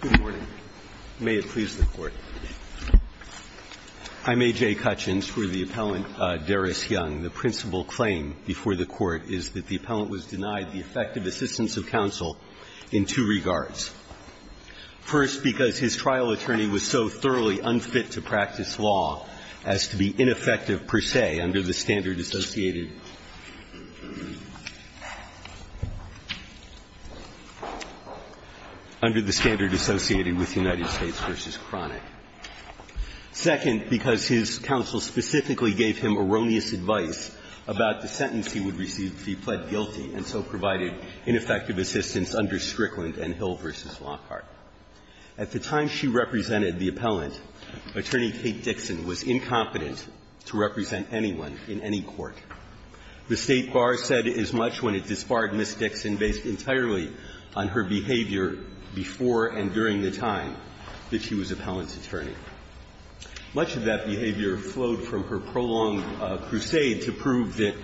Good morning. May it please the Court. I'm A.J. Cutchins for the appellant, Darius Young. The principal claim before the Court is that the appellant was denied the effective assistance of counsel in two regards. First, because his trial attorney was so thoroughly unfit to practice law as to be ineffective per se under the standard associated. Under the standard associated with United States v. Cronick. Second, because his counsel specifically gave him erroneous advice about the sentence he would receive if he pled guilty and so provided ineffective assistance under Strickland and Hill v. Lockhart. At the time she represented the appellant, Attorney Kate Dixon was incompetent to represent anyone in any court. The State Bar said as much when it disbarred Ms. Dixon based entirely on her behavior before and during the time that she was appellant's attorney. Much of that behavior flowed from her prolonged crusade to prove that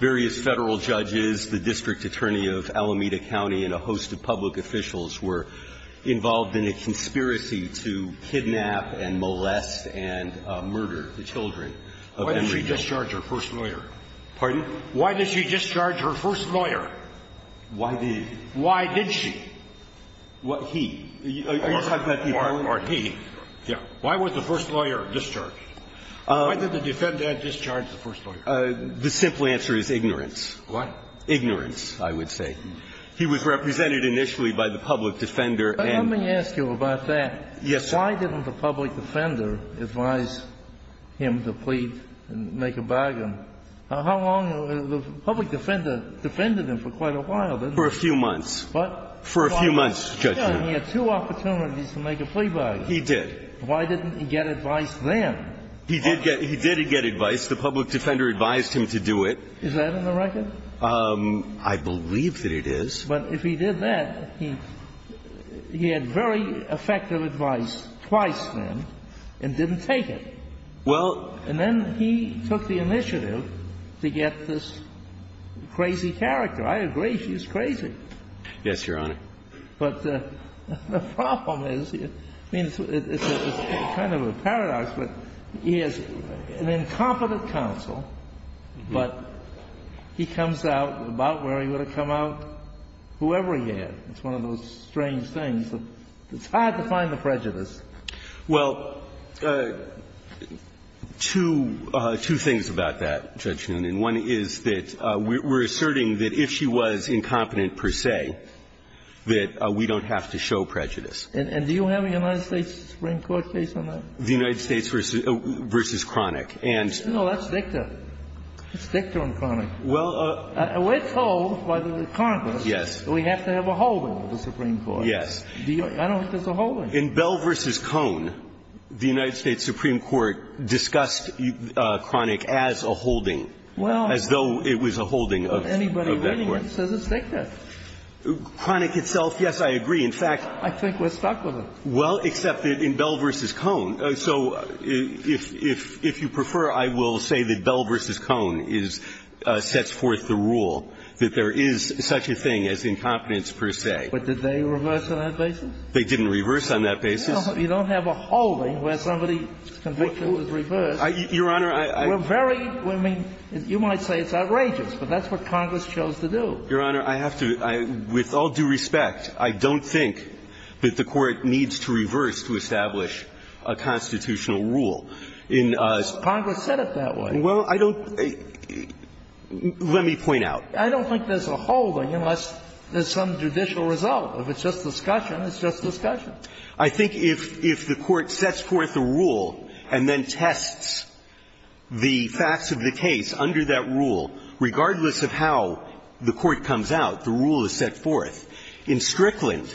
various Federal judges, the district attorney of Alameda County, and a host of public officials were involved in a conspiracy to kidnap and molest and murder the children of Henry Dixon. that you're defending? Why did she discharge her first lawyer? Pardon? Why did she discharge her first lawyer? Why did? Why did she? Or are you talking about he? Yeah. Why was the first lawyer discharged? Why did the defendant discharge the first lawyer? The simple answer is ignorance. What? Ignorance, I would say. He was represented initially by the public defender and. Let me ask you about that. Yes. Why didn't the public defender advise him to plead and make a bargain? How long? The public defender defended him for quite a while, didn't he? For a few months. What? For a few months, Judge. And he had two opportunities to make a plea bargain. He did. Why didn't he get advice then? He did get advice. The public defender advised him to do it. Is that in the record? I believe that it is. But if he did that, he had very effective advice twice then and didn't take it. Well. And then he took the initiative to get this crazy character. I agree she's crazy. Yes, Your Honor. But the problem is, I mean, it's kind of a paradox, but he is an incompetent counsel, but he comes out about where he would have come out whoever he had. It's one of those strange things. It's hard to find the prejudice. Well, two things about that, Judge Newman. One is that we're asserting that if she was incompetent per se, that we don't have to show prejudice. And do you have a United States Supreme Court case on that? The United States v. Kroenig. No, that's Dicta. It's Dicta and Kroenig. Well, we're told by the Congress that we have to have a holding of the Supreme Court. Yes. I don't think there's a holding. In Bell v. Cohn, the United States Supreme Court discussed Kroenig as a holding. Well. As though it was a holding of that court. Anybody reading it says it's Dicta. Kroenig itself, yes, I agree. In fact, I think we're stuck with it. Well, except that in Bell v. Cohn. So if you prefer, I will say that Bell v. Cohn is – sets forth the rule that there is such a thing as incompetence per se. But did they reverse on that basis? They didn't reverse on that basis. You don't have a holding where somebody convicted with reverse. Your Honor, I – We're very – I mean, you might say it's outrageous, but that's what Congress chose to do. Your Honor, I have to – with all due respect, I don't think that the Court needs to reverse to establish a constitutional rule. Congress said it that way. Well, I don't – let me point out. I don't think there's a holding unless there's some judicial result. If it's just discussion, it's just discussion. I think if the Court sets forth a rule and then tests the facts of the case under that rule, regardless of how the Court comes out, the rule is set forth. In Strickland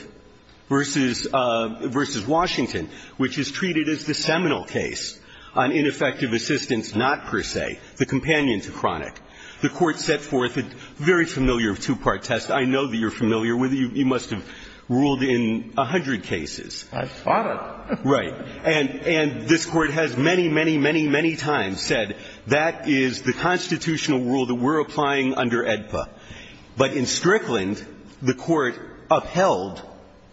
v. Washington, which is treated as the seminal case on ineffective assistance, not per se, the companion to Cronick, the Court set forth a very familiar two-part test. I know that you're familiar with it. You must have ruled in a hundred cases. I fought it. Right. And this Court has many, many, many, many times said that is the constitutional rule that we're applying under AEDPA. But in Strickland, the Court upheld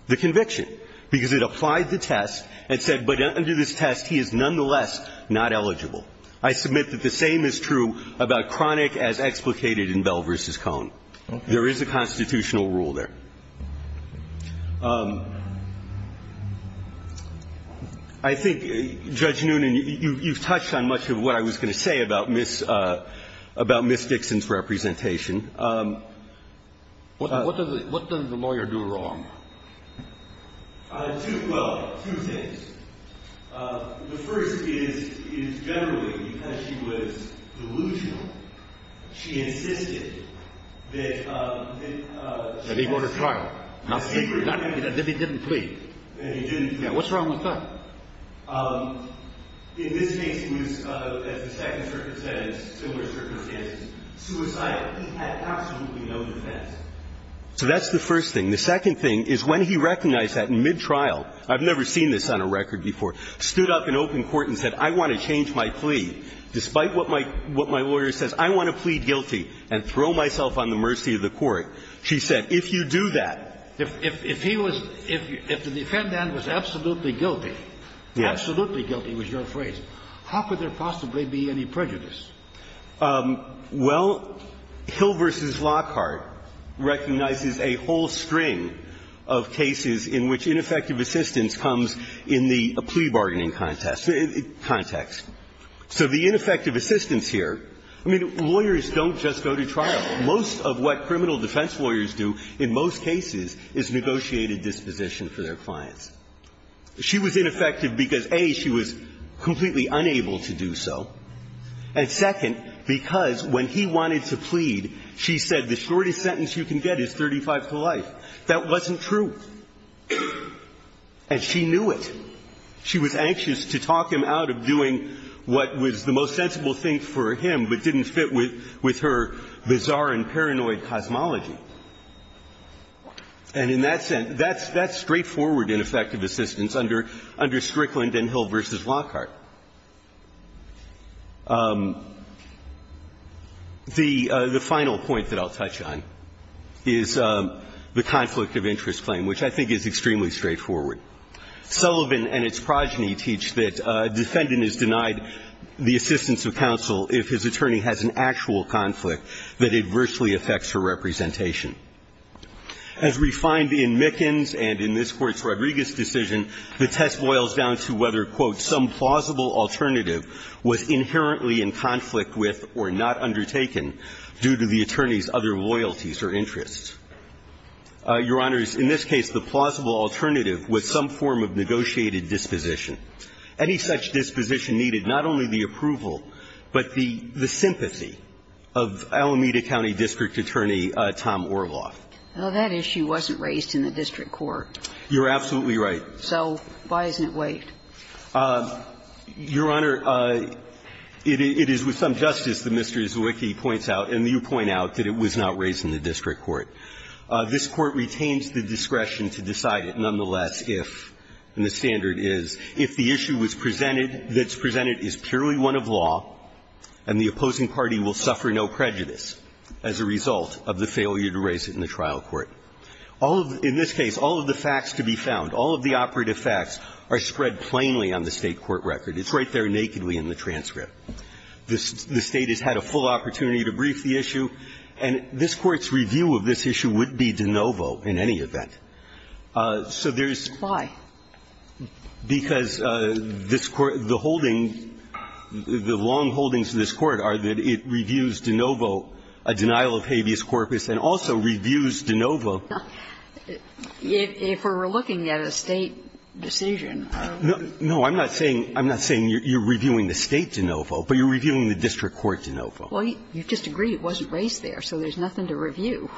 the conviction because it applied the test and said, but under this test, he is nonetheless not eligible. I submit that the same is true about Cronick as explicated in Bell v. Cohn. There is a constitutional rule there. I think, Judge Noonan, you've touched on much of what I was going to say about Ms. Dixon's representation. What does the lawyer do wrong? Well, two things. The first is, generally, because she was delusional, she insisted that it was a trial. Not secretly. That he didn't plead. That he didn't plead. What's wrong with that? In this case, he was, as the second circumstance, similar circumstances, suicidal. He had absolutely no defense. So that's the first thing. The second thing is when he recognized that in mid-trial, I've never seen this on a record before, stood up in open court and said, I want to change my plea, despite what my lawyer says, I want to plead guilty and throw myself on the mercy of the Court, she said, if you do that. If he was – if the defendant was absolutely guilty, absolutely guilty was your phrase, how could there possibly be any prejudice? Well, Hill v. Lockhart recognizes a whole string of cases in which ineffective assistance comes in the plea bargaining context. So the ineffective assistance here – I mean, lawyers don't just go to trial. Most of what criminal defense lawyers do in most cases is negotiate a disposition for their clients. She was ineffective because, A, she was completely unable to do so, and second, because when he wanted to plead, she said the shortest sentence you can get is 35 to life. That wasn't true. And she knew it. She was anxious to talk him out of doing what was the most sensible thing for him but didn't fit with her bizarre and paranoid cosmology. And in that sense, that's straightforward ineffective assistance under Strickland and Hill v. Lockhart. The final point that I'll touch on is the conflict of interest claim, which I think is extremely straightforward. Sullivan and its progeny teach that a defendant is denied the assistance of counsel if his attorney has an actual conflict that adversely affects her representation. As we find in Mickens and in this Court's Rodriguez decision, the test boils down to whether, quote, some plausible alternative was inherently in conflict with or not undertaken due to the attorney's other loyalties or interests. Your Honor, in this case, the plausible alternative was some form of negotiated disposition. Any such disposition needed not only the approval but the sympathy of Alameda County District Attorney Tom Orloff. Well, that issue wasn't raised in the district court. You're absolutely right. So why isn't it waived? Your Honor, it is with some justice that Mr. Izzouiki points out, and you point out that it was not raised in the district court. This Court retains the discretion to decide it nonetheless if, and the standard is, if the issue that's presented is purely one of law and the opposing party will suffer no prejudice as a result of the failure to raise it in the trial court. In this case, all of the facts to be found, all of the operative facts are spread plainly on the State court record. It's right there nakedly in the transcript. The State has had a full opportunity to brief the issue, and this Court's review of this issue would be de novo in any event. So there's why? Because this Court, the holding, the long holdings of this Court are that it reviews de novo a denial of habeas corpus and also reviews de novo. If we were looking at a State decision. No, I'm not saying you're reviewing the State de novo, but you're reviewing the district court de novo. Well, you just agree it wasn't raised there, so there's nothing to review.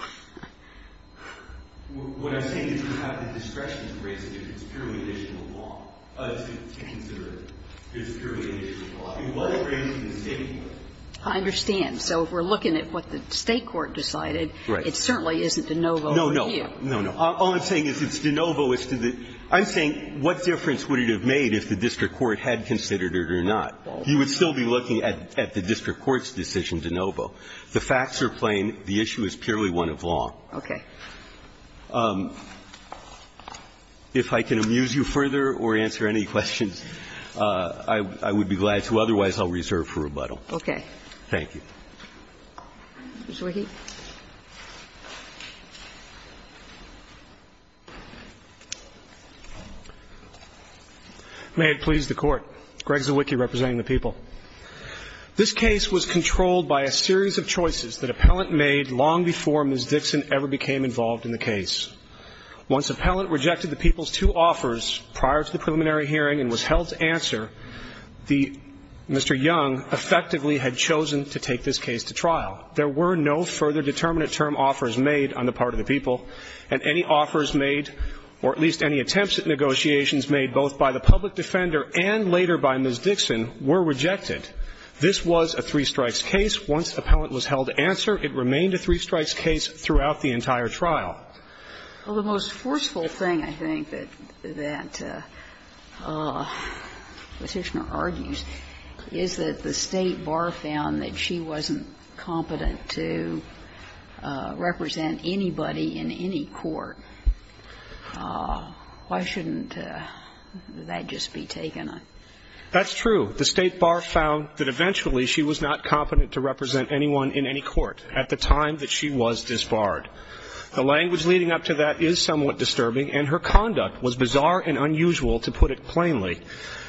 What I'm saying is you have the discretion to raise it if it's purely an issue of law, to consider it as purely an issue of law. I mean, what if it's raised in the State court? I understand. So if we're looking at what the State court decided, it certainly isn't de novo review. No, no. No, no. All I'm saying is it's de novo as to the – I'm saying what difference would it have made if the district court had considered it or not. You would still be looking at the district court's decision de novo. The facts are plain. The issue is purely one of law. Okay. If I can amuse you further or answer any questions, I would be glad to. Otherwise, I'll reserve for rebuttal. Okay. Thank you. Mr. Wicke. May it please the Court. Greg Zawicki representing the people. This case was controlled by a series of choices that appellant made long before Ms. Dixon ever became involved in the case. Once appellant rejected the people's two offers prior to the preliminary hearing and was held to answer, the – Mr. Young effectively had chosen to take this case to trial. There were no further determinate term offers made on the part of the people, and any offers made, or at least any attempts at negotiations made both by the public defender and later by Ms. Dixon were rejected. This was a three-strikes case. Once appellant was held to answer, it remained a three-strikes case throughout the entire trial. Well, the most forceful thing, I think, that the Petitioner argues is that the State Bar found that she wasn't competent to represent anybody in any court. Why shouldn't that just be taken? That's true. The State Bar found that eventually she was not competent to represent anyone in any court at the time that she was disbarred. The language leading up to that is somewhat disturbing, and her conduct was bizarre and unusual, to put it plainly.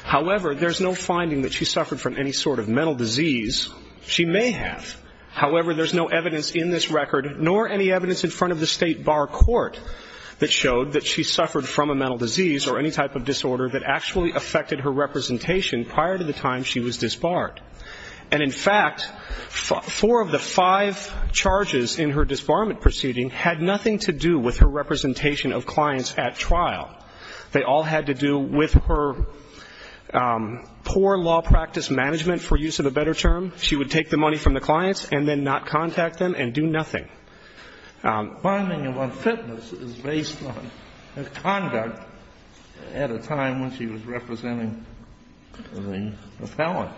However, there's no finding that she suffered from any sort of mental disease. She may have. However, there's no evidence in this record, nor any evidence in front of the State Bar court, that showed that she suffered from a mental disease or any type of disorder that actually affected her representation prior to the time she was disbarred. And in fact, four of the five charges in her disbarment proceeding had nothing to do with her representation of clients at trial. They all had to do with her poor law practice management, for use of a better term. She would take the money from the clients and then not contact them and do nothing. My finding of unfitness is based on her conduct at a time when she was representing a felon.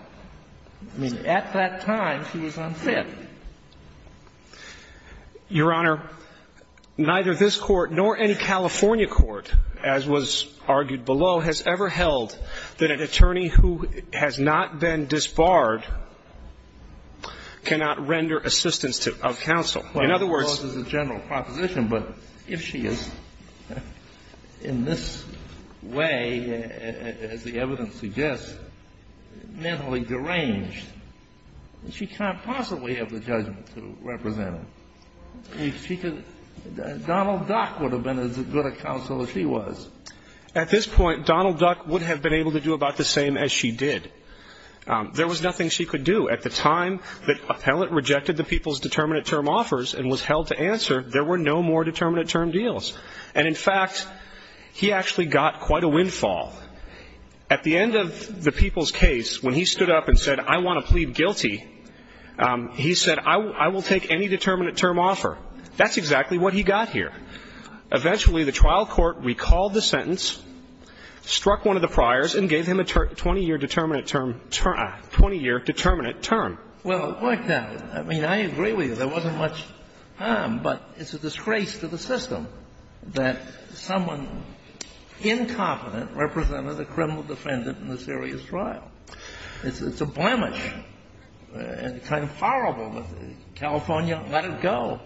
I mean, at that time, she was unfit. Your Honor, neither this Court nor any California court, as was argued below, has ever held that an attorney who has not been disbarred cannot render assistance of counsel. In other words the general proposition, but if she is in this way, as the evidence suggests, mentally deranged, she can't possibly have the judgment to represent her. If she could, Donald Duck would have been as good a counsel as she was. At this point, Donald Duck would have been able to do about the same as she did. There was nothing she could do. At the time that appellant rejected the people's determinate term offers and was held to answer, there were no more determinate term deals. And in fact, he actually got quite a windfall. At the end of the people's case, when he stood up and said, I want to plead guilty, he said, I will take any determinate term offer. That's exactly what he got here. Eventually, the trial court recalled the sentence, struck one of the priors, and gave him a 20-year determinate term, 20-year determinate term. Well, it worked out. I mean, I agree with you. There wasn't much harm, but it's a disgrace to the system that someone incompetent represented a criminal defendant in a serious trial. It's a blemish, and it's kind of horrible, but California, let it go.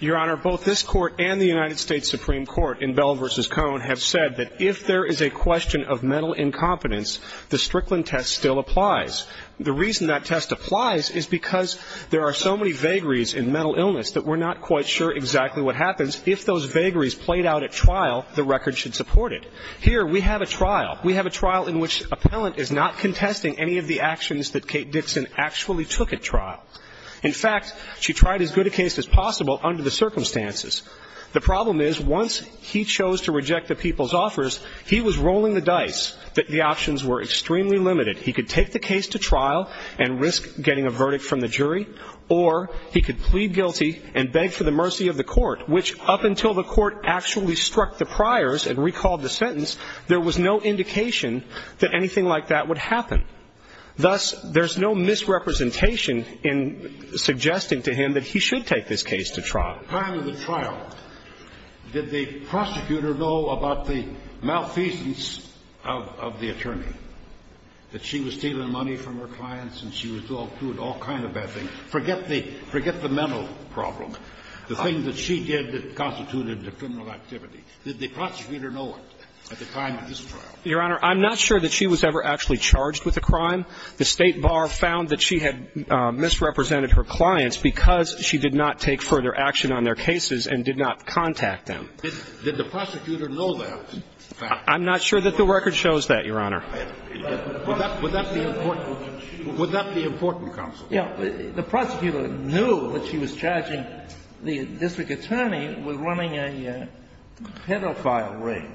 Your Honor, both this Court and the United States Supreme Court in Bell v. Cohn have said that if there is a question of mental incompetence, the Strickland test still applies. The reason that test applies is because there are so many vagaries in mental illness that we're not quite sure exactly what happens. If those vagaries played out at trial, the record should support it. Here, we have a trial. We have a trial in which appellant is not contesting any of the actions that Kate Dixon actually took at trial. In fact, she tried as good a case as possible under the circumstances. The problem is, once he chose to reject the people's offers, he was rolling the dice that the options were extremely limited. He could take the case to trial and risk getting a verdict from the jury, or he could plead guilty and beg for the mercy of the court, which up until the court actually struck the priors and recalled the sentence, there was no indication that anything like that would happen. Thus, there's no misrepresentation in suggesting to him that he should take this case to trial. The time of the trial, did the prosecutor know about the malfeasance of the attorney, that she was stealing money from her clients and she was doing all kinds of bad things? Forget the mental problem. The thing that she did that constituted the criminal activity, did the prosecutor know it at the time of this trial? Your Honor, I'm not sure that she was ever actually charged with a crime. The State Bar found that she had misrepresented her clients because she did not take further action on their cases and did not contact them. Did the prosecutor know that? I'm not sure that the record shows that, Your Honor. Would that be important counsel? The prosecutor knew that she was charging the district attorney with running a pedophile ring.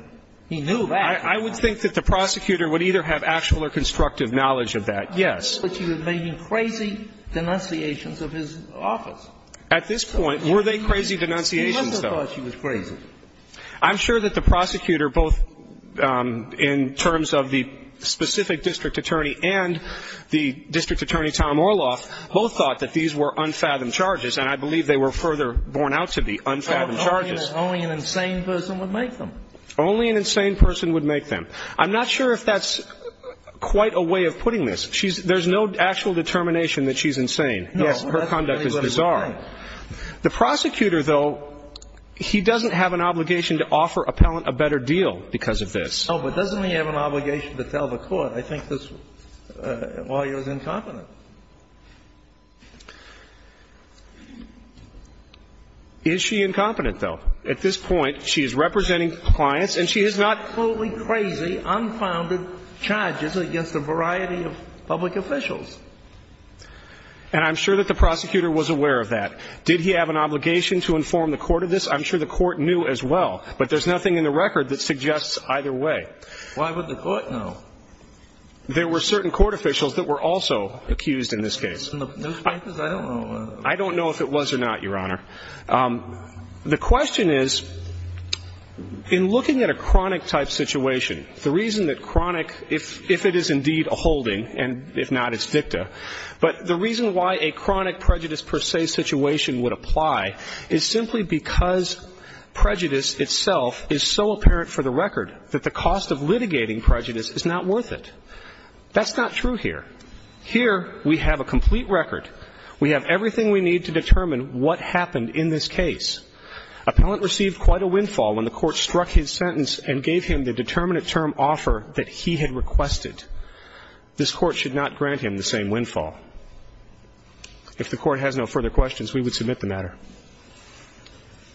He knew that. I would think that the prosecutor would either have actual or constructive knowledge of that, yes. But she was making crazy denunciations of his office. At this point, were they crazy denunciations, though? He must have thought she was crazy. I'm sure that the prosecutor, both in terms of the specific district attorney and the district attorney, Tom Orloff, both thought that these were unfathomed charges, and I believe they were further borne out to be unfathomed charges. Only an insane person would make them. Only an insane person would make them. I'm not sure if that's quite a way of putting this. There's no actual determination that she's insane. Yes, her conduct is bizarre. The prosecutor, though, he doesn't have an obligation to offer appellant a better deal because of this. Oh, but doesn't he have an obligation to tell the court? I think this lawyer is incompetent. Is she incompetent, though? At this point, she is representing clients, and she has not fully crazy, unfounded charges against a variety of public officials. And I'm sure that the prosecutor was aware of that. Did he have an obligation to inform the court of this? I'm sure the court knew as well. But there's nothing in the record that suggests either way. Why would the court know? There were certain court officials that were also accused in this case. I don't know if it was or not, Your Honor. The question is, in looking at a chronic-type situation, the reason that chronic – if it is indeed a holding, and if not, it's dicta – but the reason why a chronic prejudice-per-se situation would apply is simply because prejudice itself is so apparent for the record that the cost of litigating prejudice is not worth it. That's not true here. Here, we have a complete record. We have everything we need to determine what happened in this case. Appellant received quite a windfall when the court struck his sentence and gave him the determinate term offer that he had requested. This Court should not grant him the same windfall. If the Court has no further questions, we would submit the matter.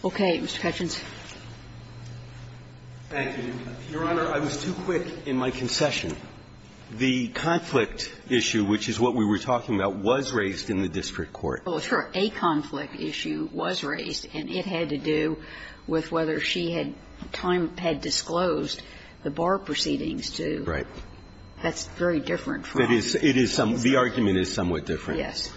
Okay. Mr. Ketchins. Thank you. Your Honor, I was too quick in my concession. The conflict issue, which is what we were talking about, was raised in the district court. Well, sure. A conflict issue was raised, and it had to do with whether she had time – had disclosed the bar proceedings to the court. Right. That's very different from what I was saying. It is some – the argument is somewhat different. Yes.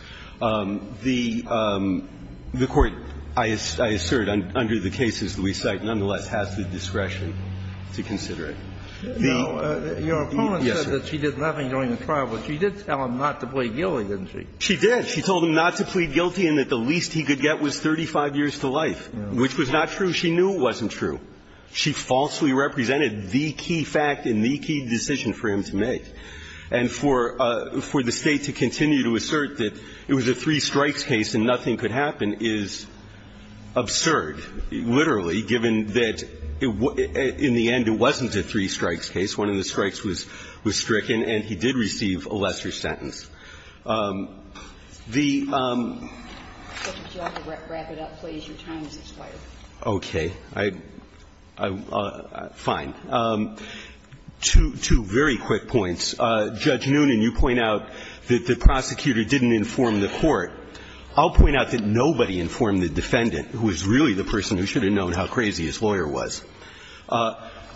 The court, I assert, under the cases that we cite, nonetheless, has the discretion to consider it. The – yes, sir. Your opponent said that she did nothing during the trial, but she did tell him not to plead guilty, didn't she? She did. She told him not to plead guilty and that the least he could get was 35 years to life, which was not true. She knew it wasn't true. She falsely represented the key fact and the key decision for him to make. And for the State to continue to assert that it was a three-strikes case and nothing could happen is absurd, literally, given that in the end it wasn't a three-strikes case. One of the strikes was stricken, and he did receive a lesser sentence. The – Would you like to wrap it up, please? Your time has expired. Okay. I – fine. Two very quick points. Judge Noonan, you point out that the prosecutor didn't inform the court. I'll point out that nobody informed the defendant, who is really the person who should have known how crazy his lawyer was.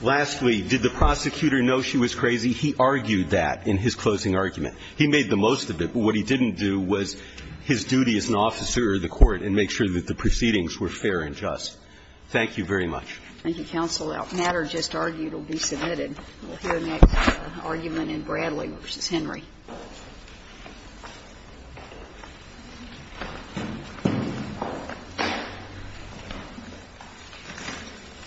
Lastly, did the prosecutor know she was crazy? He argued that in his closing argument. He made the most of it, but what he didn't do was his duty as an officer of the court and make sure that the proceedings were fair and just. Thank you very much. Thank you, counsel. All questions raised in this Brazil matter just argued will be submitted. We'll hear next argument in Bradley v. Henry.